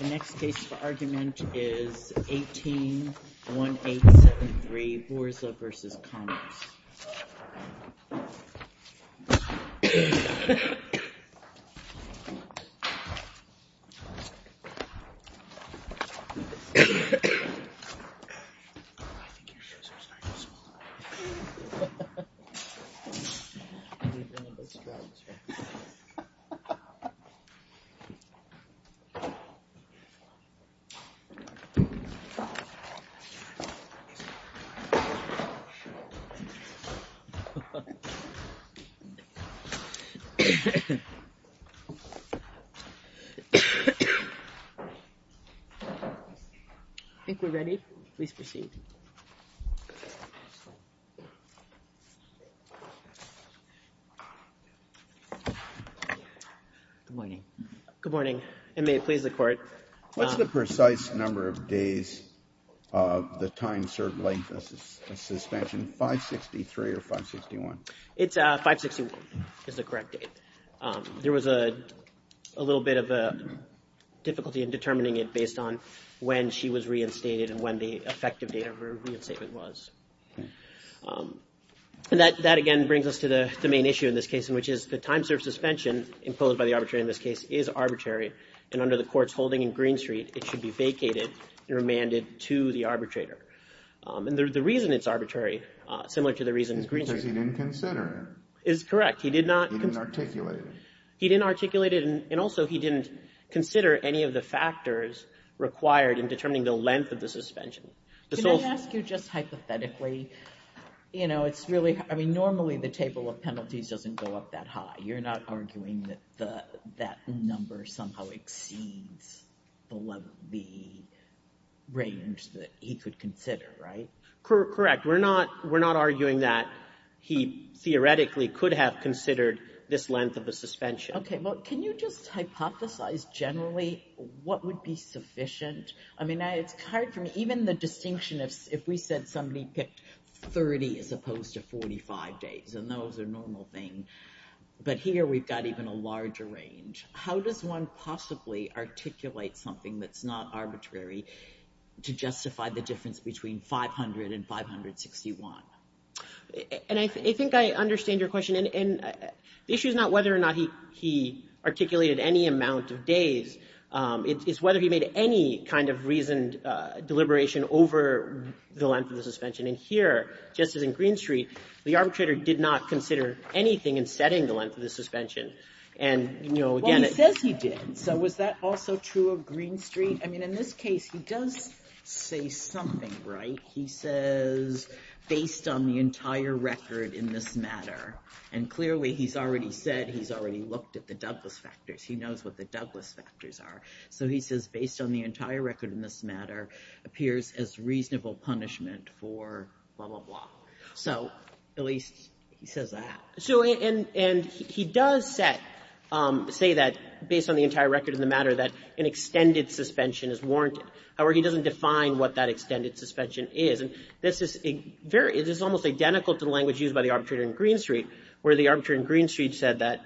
The next case for argument is 18-1873, Borza v. Commerce. I think we're ready. Please proceed. Good morning. Good morning, and may it please the Court. What's the precise number of days of the time served length of suspension, 563 or 561? It's 561 is the correct date. There was a little bit of difficulty in determining it based on when she was reinstated and when the effective date of her reinstatement was. And that, again, brings us to the main issue in this case, which is the time served suspension imposed by the arbitrator in this case is arbitrary, and under the Court's holding in Green Street, it should be vacated and remanded to the arbitrator. And the reason it's arbitrary, similar to the reason in Green Street— Because he didn't consider it. Is correct. He did not— He didn't articulate it. And also he didn't consider any of the factors required in determining the length of the suspension. Can I ask you just hypothetically, you know, it's really— I mean, normally the table of penalties doesn't go up that high. You're not arguing that that number somehow exceeds the range that he could consider, right? Correct. We're not arguing that he theoretically could have considered this length of the suspension. Okay, well, can you just hypothesize generally what would be sufficient? I mean, it's hard for me, even the distinction if we said somebody picked 30 as opposed to 45 days, and that was a normal thing, but here we've got even a larger range. How does one possibly articulate something that's not arbitrary to justify the difference between 500 and 561? And I think I understand your question. And the issue is not whether or not he articulated any amount of days. It's whether he made any kind of reasoned deliberation over the length of the suspension. And here, just as in Green Street, the arbitrator did not consider anything in setting the length of the suspension. Well, he says he did. So was that also true of Green Street? I mean, in this case, he does say something, right? He says, based on the entire record in this matter, and clearly he's already said he's already looked at the Douglas factors. He knows what the Douglas factors are. So he says, based on the entire record in this matter, appears as reasonable punishment for blah, blah, blah. So at least he says that. And he does say that, based on the entire record in the matter, that an extended suspension is warranted. However, he doesn't define what that extended suspension is. And this is almost identical to the language used by the arbitrator in Green Street, where the arbitrator in Green Street said that,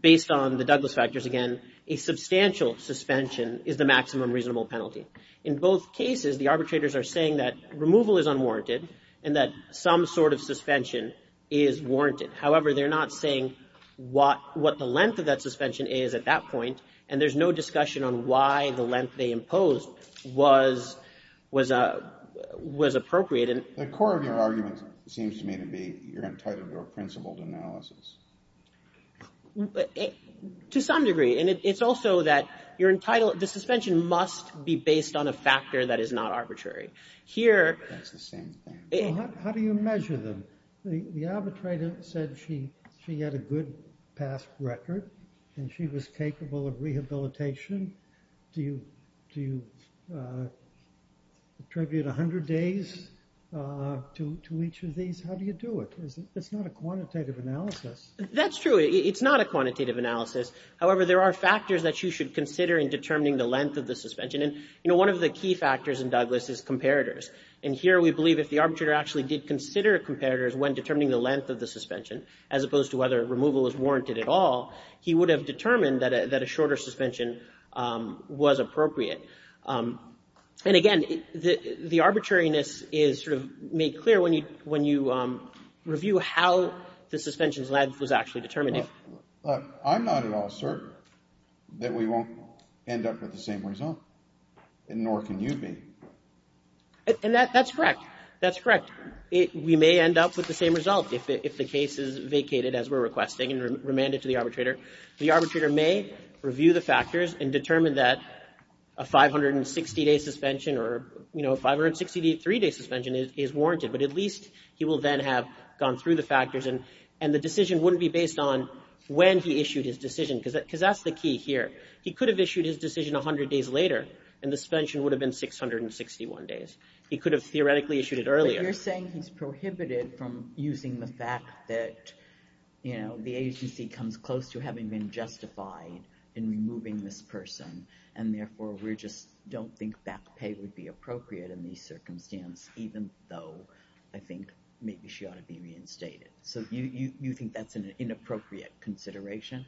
based on the Douglas factors, again, a substantial suspension is the maximum reasonable penalty. In both cases, the arbitrators are saying that removal is unwarranted and that some sort of suspension is warranted. However, they're not saying what the length of that suspension is at that point. And there's no discussion on why the length they imposed was appropriate. The core of your argument seems to me to be you're entitled to a principled analysis. To some degree. And it's also that the suspension must be based on a factor that is not arbitrary. That's the same thing. How do you measure them? The arbitrator said she had a good past record and she was capable of rehabilitation. Do you attribute 100 days to each of these? How do you do it? It's not a quantitative analysis. That's true. It's not a quantitative analysis. However, there are factors that you should consider in determining the length of the suspension. And, you know, one of the key factors in Douglas is comparators. And here we believe if the arbitrator actually did consider comparators when determining the length of the suspension, as opposed to whether removal is warranted at all, he would have determined that a shorter suspension was appropriate. And, again, the arbitrariness is sort of made clear when you review how the suspension's length was actually determined. Look, I'm not at all certain that we won't end up with the same result. And nor can you be. And that's correct. That's correct. We may end up with the same result if the case is vacated as we're requesting and remanded to the arbitrator. The arbitrator may review the factors and determine that a 560-day suspension or, you know, a 563-day suspension is warranted. But at least he will then have gone through the factors. And the decision wouldn't be based on when he issued his decision because that's the key here. He could have issued his decision 100 days later, and the suspension would have been 661 days. He could have theoretically issued it earlier. But you're saying he's prohibited from using the fact that, you know, the agency comes close to having been justified in removing this person. And, therefore, we just don't think back pay would be appropriate in these circumstances, even though I think maybe she ought to be reinstated. So you think that's an inappropriate consideration?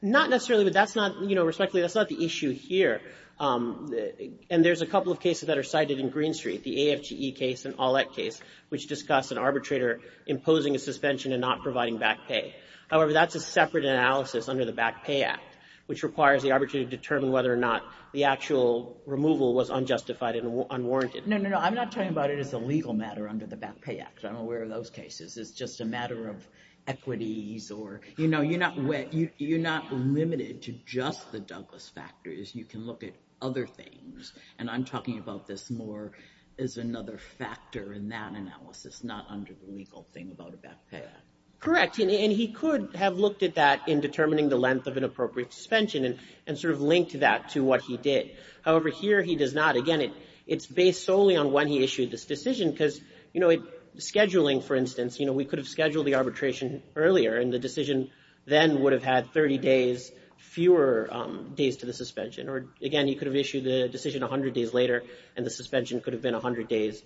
Not necessarily, but that's not, you know, respectfully, that's not the issue here. And there's a couple of cases that are cited in Green Street, the AFGE case and OLEC case, which discuss an arbitrator imposing a suspension and not providing back pay. However, that's a separate analysis under the Back Pay Act, which requires the arbitrator to determine whether or not the actual removal was unjustified and unwarranted. No, no, no. I'm not talking about it as a legal matter under the Back Pay Act. I'm aware of those cases. It's just a matter of equities or... You're not limited to just the Douglas factor. You can look at other things. And I'm talking about this more as another factor in that analysis, not under the legal thing about a back pay act. Correct. And he could have looked at that in determining the length of an appropriate suspension and sort of linked that to what he did. However, here he does not. Again, it's based solely on when he issued this decision because, you know, scheduling, for instance, you know, we could have scheduled the arbitration earlier and the decision then would have had 30 days fewer days to the suspension. Or, again, you could have issued the decision 100 days later and the suspension could have been 100 days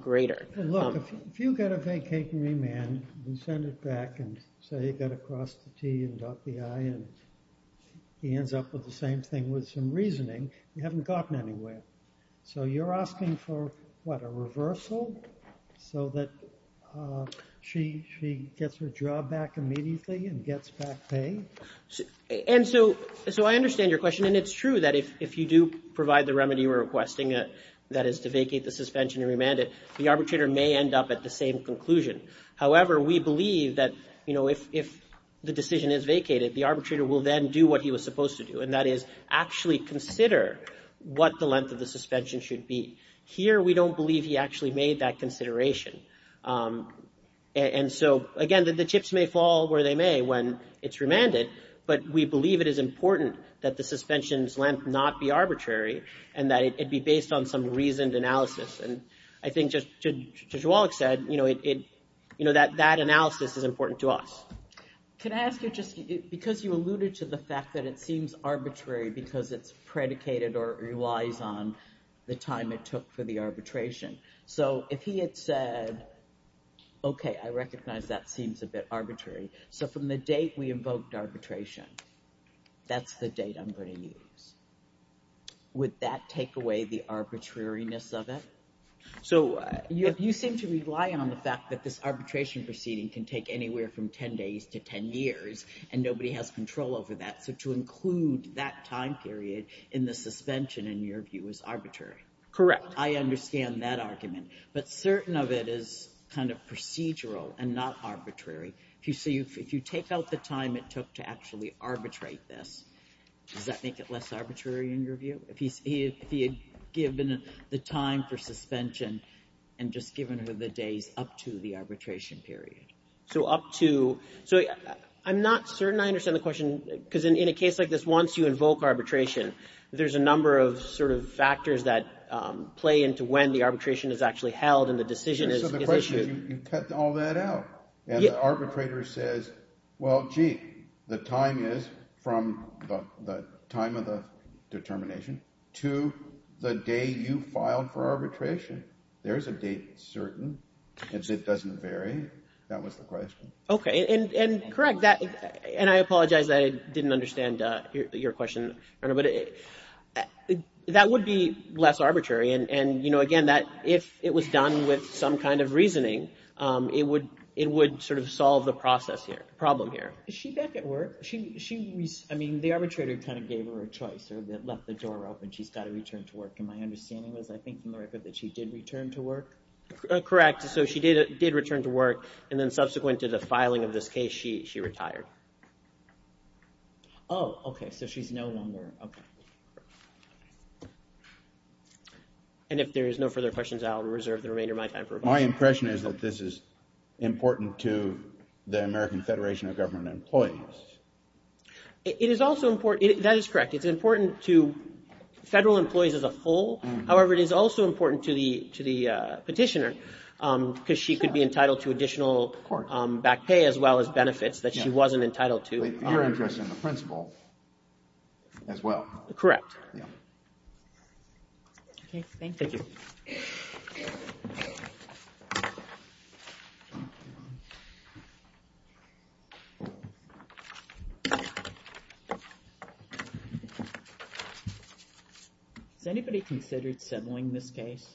greater. Look, if you've got a vacating remand, you send it back and say you've got to cross the T and dot the I, and he ends up with the same thing with some reasoning, you haven't gotten anywhere. So you're asking for, what, a reversal so that she gets her job back immediately and gets back pay? And so I understand your question, and it's true that if you do provide the remedy we're requesting, that is to vacate the suspension and remand it, the arbitrator may end up at the same conclusion. However, we believe that, you know, if the decision is vacated, the arbitrator will then do what he was supposed to do, and that is actually consider what the length of the suspension should be. Here we don't believe he actually made that consideration. And so, again, the chips may fall where they may when it's remanded, but we believe it is important that the suspension's length not be arbitrary and that it be based on some reasoned analysis. And I think, just as Judge Wallach said, you know, that analysis is important to us. Can I ask you, just because you alluded to the fact that it seems arbitrary because it's predicated or relies on the time it took for the arbitration. So if he had said, okay, I recognize that seems a bit arbitrary. So from the date we invoked arbitration, that's the date I'm going to use. Would that take away the arbitrariness of it? So you seem to rely on the fact that this arbitration proceeding can take anywhere from 10 days to 10 years, and nobody has control over that. So to include that time period in the suspension, in your view, is arbitrary. Correct. I understand that argument. But certain of it is kind of procedural and not arbitrary. If you take out the time it took to actually arbitrate this, does that make it less arbitrary in your view? If he had given the time for suspension and just given the days up to the arbitration period. So up to. So I'm not certain I understand the question, because in a case like this, once you invoke arbitration, there's a number of sort of factors that play into when the arbitration is actually held and the decision is issued. So the question is you cut all that out. And the arbitrator says, well, gee, the time is from the time of the determination to the day you filed for arbitration. There is a date certain. It doesn't vary. That was the question. OK. And correct. And I apologize. I didn't understand your question. But that would be less arbitrary. And again, if it was done with some kind of reasoning, it would sort of solve the problem here. Is she back at work? I mean, the arbitrator kind of gave her a choice or left the door open. She's got to return to work. And my understanding was, I think, from the record that she did return to work. Correct. So she did return to work. And then subsequent to the filing of this case, she retired. Oh, OK. So she's no longer. And if there is no further questions, I'll reserve the remainder of my time for rebuttal. My impression is that this is important to the American Federation of Government Employees. It is also important. That is correct. It's important to federal employees as a whole. However, it is also important to the petitioner because she could be entitled to additional back pay as well as benefits that she wasn't entitled to. You're interested in the principal as well. Correct. OK, thank you. Thank you. Has anybody considered settling this case?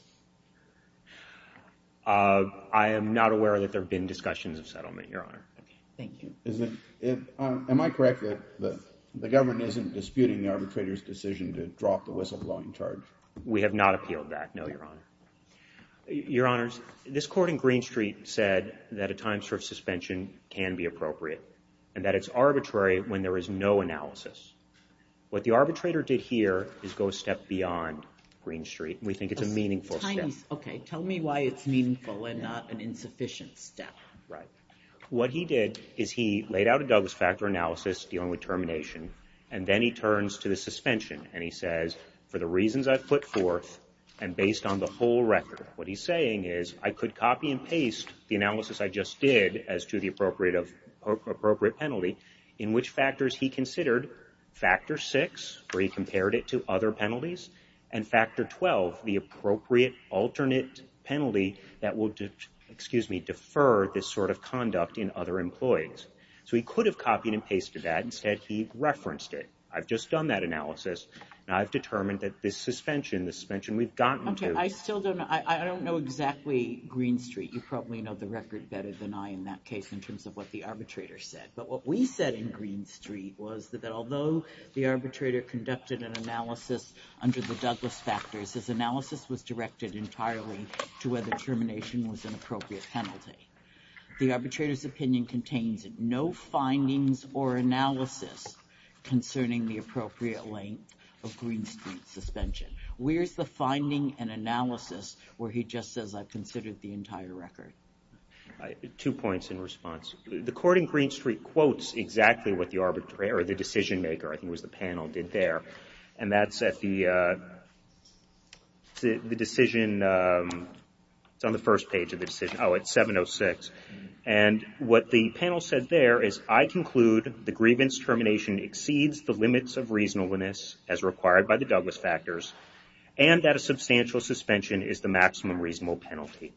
I am not aware that there have been discussions of settlement, Your Honor. Thank you. Am I correct that the government isn't disputing the arbitrator's decision to drop the whistleblowing charge? We have not appealed that, no, Your Honor. Your Honors, this court in Green Street said that a time for suspension can be appropriate and that it's arbitrary when there is no analysis. What the arbitrator did here is go a step beyond Green Street. We think it's a meaningful step. OK, tell me why it's meaningful and not an insufficient step. Right. What he did is he laid out a Douglas factor analysis dealing with termination, and then he turns to the suspension, and he says, for the reasons I've put forth and based on the whole record, what he's saying is I could copy and paste the analysis I just did as to the appropriate penalty, in which factors he considered, factor six, where he compared it to other penalties, and factor 12, the appropriate alternate penalty that will defer this sort of conduct in other employees. So he could have copied and pasted that. Instead, he referenced it. I've just done that analysis, and I've determined that this suspension, the suspension we've gotten to. OK, I still don't know. I don't know exactly Green Street. You probably know the record better than I in that case in terms of what the arbitrator said. But what we said in Green Street was that although the arbitrator conducted an analysis under the Douglas factors, his analysis was directed entirely to whether termination was an appropriate penalty. The arbitrator's opinion contains no findings or analysis concerning the appropriate length of Green Street suspension. Where's the finding and analysis where he just says I've considered the entire record? Two points in response. The court in Green Street quotes exactly what the decision maker, I think it was the panel, did there. And that's at the decision. It's on the first page of the decision. Oh, it's 706. And what the panel said there is I conclude the grievance termination exceeds the limits of reasonableness as required by the Douglas factors, and that a substantial suspension is the maximum reasonable penalty.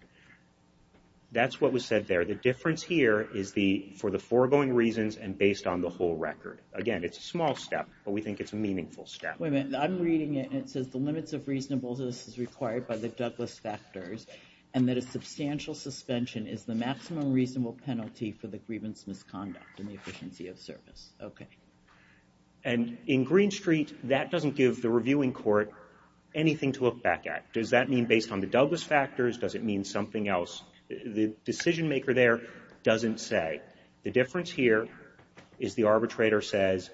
That's what was said there. The difference here is for the foregoing reasons and based on the whole record. Again, it's a small step, but we think it's a meaningful step. Wait a minute. I'm reading it, and it says the limits of reasonableness as required by the Douglas factors, and that a substantial suspension is the maximum reasonable penalty for the grievance misconduct in the efficiency of service. Okay. And in Green Street, that doesn't give the reviewing court anything to look back at. Does that mean based on the Douglas factors? Does it mean something else? The decision maker there doesn't say. The difference here is the arbitrator says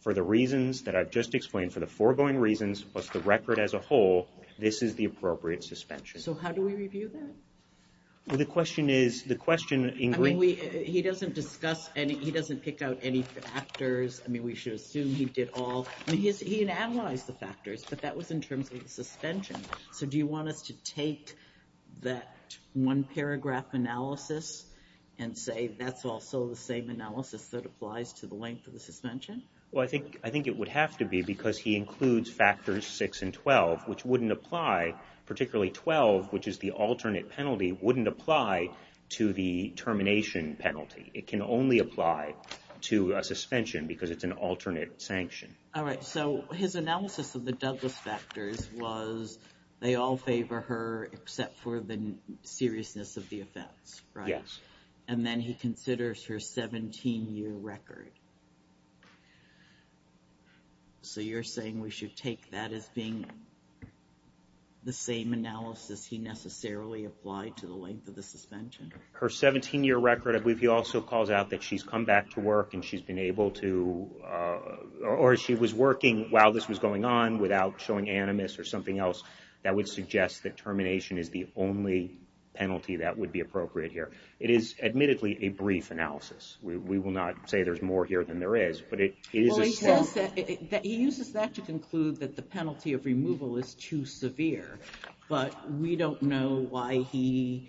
for the reasons that I've just explained, for the foregoing reasons plus the record as a whole, this is the appropriate suspension. So how do we review that? Well, the question is, the question in green. I mean, he doesn't discuss any, he doesn't pick out any factors. I mean, we should assume he did all. I mean, he analyzed the factors, but that was in terms of the suspension. So do you want us to take that one paragraph analysis and say that's also the same analysis that applies to the length of the suspension? Well, I think it would have to be because he includes factors 6 and 12, which wouldn't apply, particularly 12, which is the alternate penalty, wouldn't apply to the termination penalty. It can only apply to a suspension because it's an alternate sanction. All right. So his analysis of the Douglas factors was they all favor her except for the seriousness of the offense, right? Yes. And then he considers her 17-year record. So you're saying we should take that as being the same analysis he necessarily applied to the length of the suspension? Her 17-year record, I believe he also calls out that she's come back to work and she's been able to, or she was working while this was going on without showing animus or something else. That would suggest that termination is the only penalty that would be appropriate here. It is admittedly a brief analysis. We will not say there's more here than there is. He uses that to conclude that the penalty of removal is too severe, but we don't know why he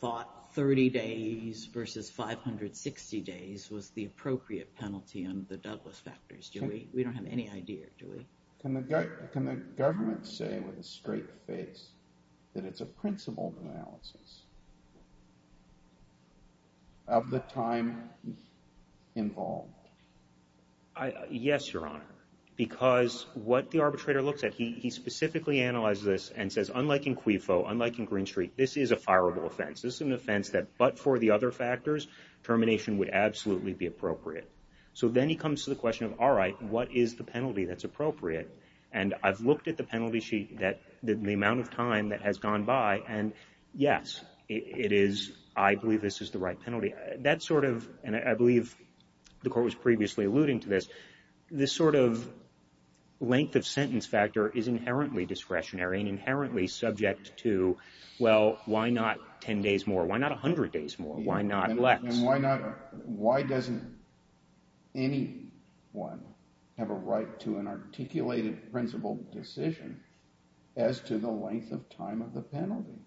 thought 30 days versus 560 days was the appropriate penalty under the Douglas factors. We don't have any idea, do we? Can the government say with a straight face that it's a principled analysis of the time involved? Yes, Your Honor, because what the arbitrator looks at, he specifically analyzes this and says, unlike in CUIFO, unlike in Green Street, this is a fireable offense. This is an offense that, but for the other factors, termination would absolutely be appropriate. So then he comes to the question of, all right, what is the penalty that's appropriate? And I've looked at the penalty sheet, the amount of time that has gone by, and yes, it is, I believe this is the right penalty. That sort of, and I believe the court was previously alluding to this, but this sort of length of sentence factor is inherently discretionary and inherently subject to, well, why not 10 days more? Why not 100 days more? Why not less? And why not, why doesn't anyone have a right to an articulated principled decision as to the length of time of the penalty?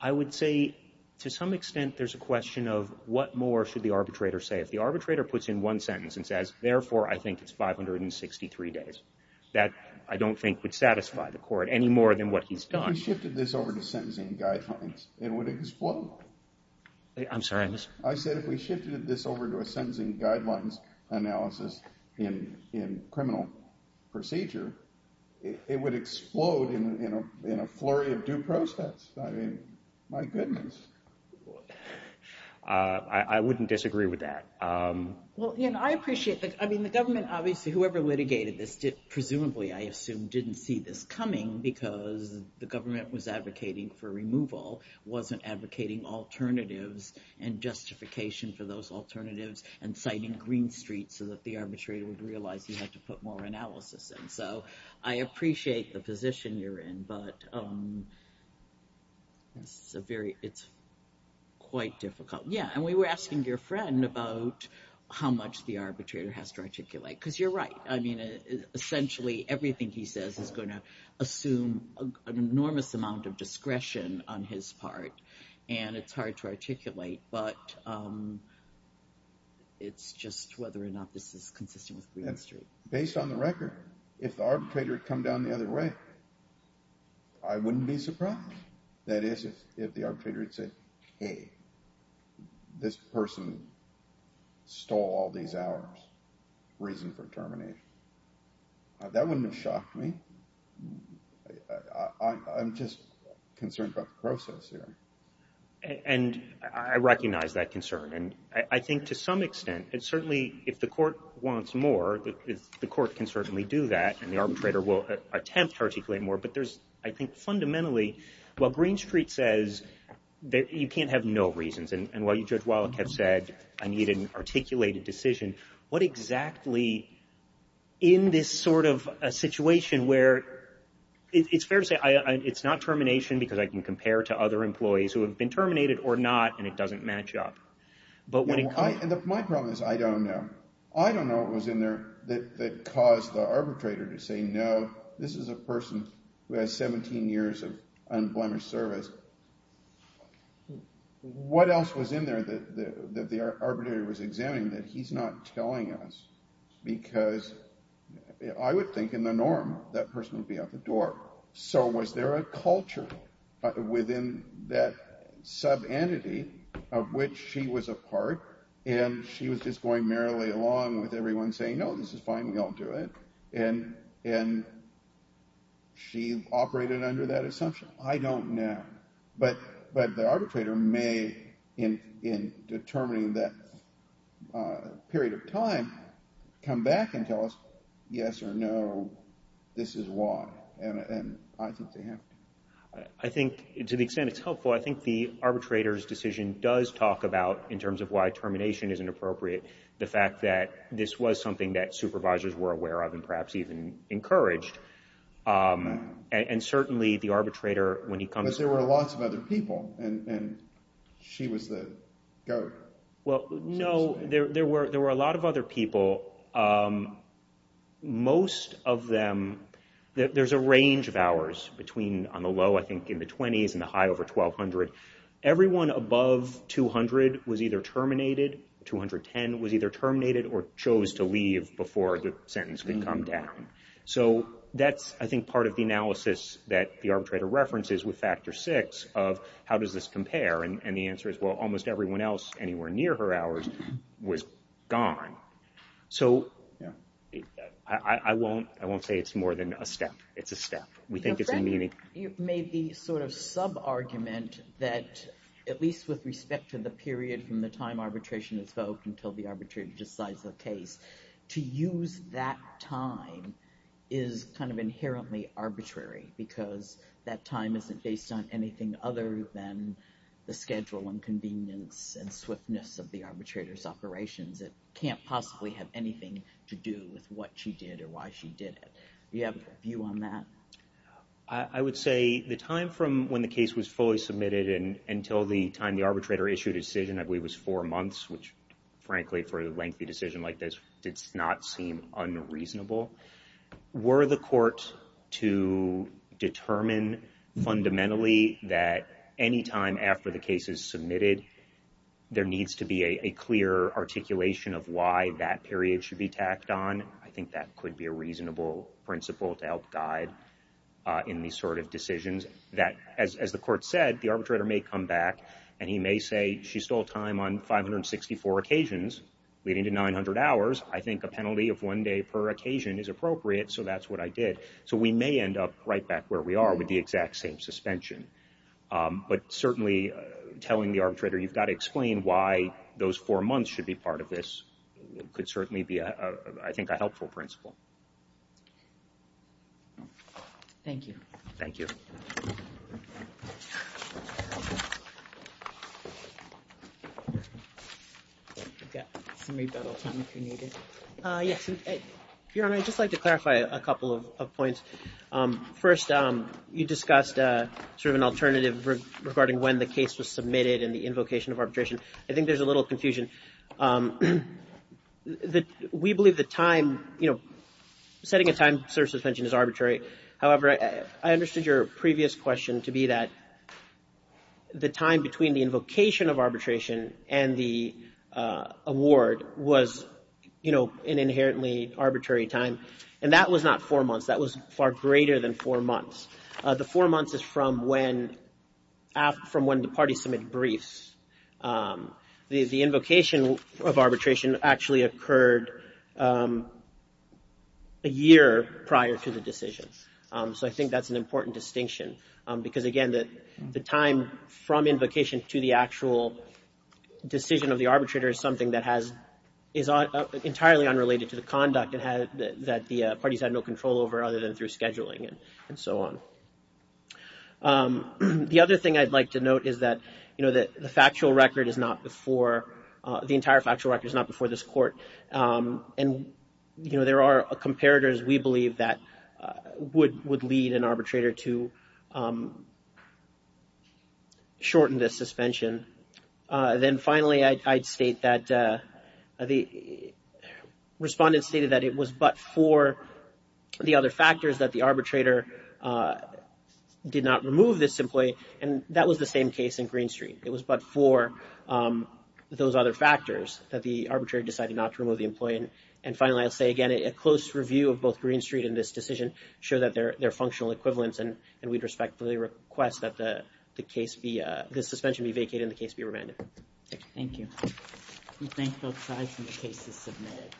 I would say to some extent there's a question of what more should the arbitrator say. If the arbitrator puts in one sentence and says, therefore, I think it's 563 days, that I don't think would satisfy the court any more than what he's done. If you shifted this over to sentencing guidelines, it would explode. I'm sorry, Mr. I said if we shifted this over to a sentencing guidelines analysis in criminal procedure, it would explode in a flurry of due process. I mean, my goodness. I wouldn't disagree with that. Well, Ian, I appreciate that. I mean, the government obviously, whoever litigated this, presumably, I assume, didn't see this coming because the government was advocating for removal, wasn't advocating alternatives and justification for those alternatives and citing Green Street so that the arbitrator would realize he had to put more analysis in. So I appreciate the position you're in, but it's quite difficult. Yeah, and we were asking your friend about how much the arbitrator has to articulate, because you're right. I mean, essentially everything he says is going to assume an enormous amount of discretion on his part, and it's hard to articulate, but it's just whether or not this is consistent with Green Street. Based on the record, if the arbitrator had come down the other way, I wouldn't be surprised. That is, if the arbitrator had said, hey, this person stole all these hours, reason for termination. That wouldn't have shocked me. I'm just concerned about the process here. And I recognize that concern, and I think to some extent, certainly if the court wants more, the court can certainly do that, and the arbitrator will attempt to articulate more. But there's, I think, fundamentally, while Green Street says you can't have no reasons, and while you, Judge Wallach, have said I need an articulated decision, what exactly in this sort of situation where it's fair to say it's not termination because I can compare to other employees who have been terminated or not and it doesn't match up. My problem is I don't know. I don't know what was in there that caused the arbitrator to say no, this is a person who has 17 years of unblemished service. What else was in there that the arbitrator was examining that he's not telling us? Because I would think in the norm that person would be out the door. So was there a culture within that sub-entity of which she was a part, and she was just going merrily along with everyone saying no, this is fine, we all do it, and she operated under that assumption? I don't know. But the arbitrator may, in determining that period of time, come back and tell us yes or no, this is why, and I think they have to. I think to the extent it's helpful, I think the arbitrator's decision does talk about, in terms of why termination isn't appropriate, the fact that this was something that supervisors were aware of and perhaps even encouraged, and certainly the arbitrator, when he comes to court. But there were lots of other people, and she was the go-to. Well, no, there were a lot of other people. Most of them, there's a range of hours on the low, I think, in the 20s, and the high over 1,200. Everyone above 200 was either terminated, 210 was either terminated, or chose to leave before the sentence could come down. So that's, I think, part of the analysis that the arbitrator references with Factor VI, of how does this compare, and the answer is, well, almost everyone else anywhere near her hours was gone. So I won't say it's more than a step. It's a step. We think it's a meaning. You've made the sort of sub-argument that, at least with respect to the period from the time arbitration is held until the arbitrator decides the case, to use that time is kind of inherently arbitrary, because that time isn't based on anything other than the schedule and convenience and swiftness of the arbitrator's operations. It can't possibly have anything to do with what she did or why she did it. Do you have a view on that? I would say the time from when the case was fully submitted until the time the arbitrator issued a decision, I believe it was four months, which, frankly, for a lengthy decision like this, did not seem unreasonable. Were the court to determine fundamentally that any time after the case is submitted, there needs to be a clear articulation of why that period should be tacked on, I think that could be a reasonable principle to help guide in these sort of decisions. As the court said, the arbitrator may come back, and he may say she stole time on 564 occasions, leading to 900 hours. I think a penalty of one day per occasion is appropriate, so that's what I did. So we may end up right back where we are with the exact same suspension. But certainly telling the arbitrator you've got to explain why those four months should be part of this could certainly be, I think, a helpful principle. Thank you. Thank you. Yes, Your Honor, I'd just like to clarify a couple of points. First, you discussed sort of an alternative regarding when the case was submitted and the invocation of arbitration. I think there's a little confusion. We believe the time, you know, setting a time service suspension is arbitrary. to be that the time between the invocation of arbitration and the award was, you know, an inherently arbitrary time. And that was not four months. That was far greater than four months. The four months is from when the parties submit briefs. The invocation of arbitration actually occurred a year prior to the decision. So I think that's an important distinction. Because, again, the time from invocation to the actual decision of the arbitrator is something that is entirely unrelated to the conduct that the parties had no control over other than through scheduling and so on. The other thing I'd like to note is that, you know, the factual record is not before, the entire factual record is not before this court. And, you know, there are comparators we believe that would lead an arbitrator to shorten the suspension. Then, finally, I'd state that the respondent stated that it was but for the other factors that the arbitrator did not remove this employee. And that was the same case in Green Street. It was but for those other factors that the arbitrator decided not to remove the employee. And, finally, I'll say again, a close review of both Green Street and this decision show that they're functional equivalents. And we'd respectfully request that the case be, the suspension be vacated and the case be remanded. Thank you. We thank both sides and the case is submitted.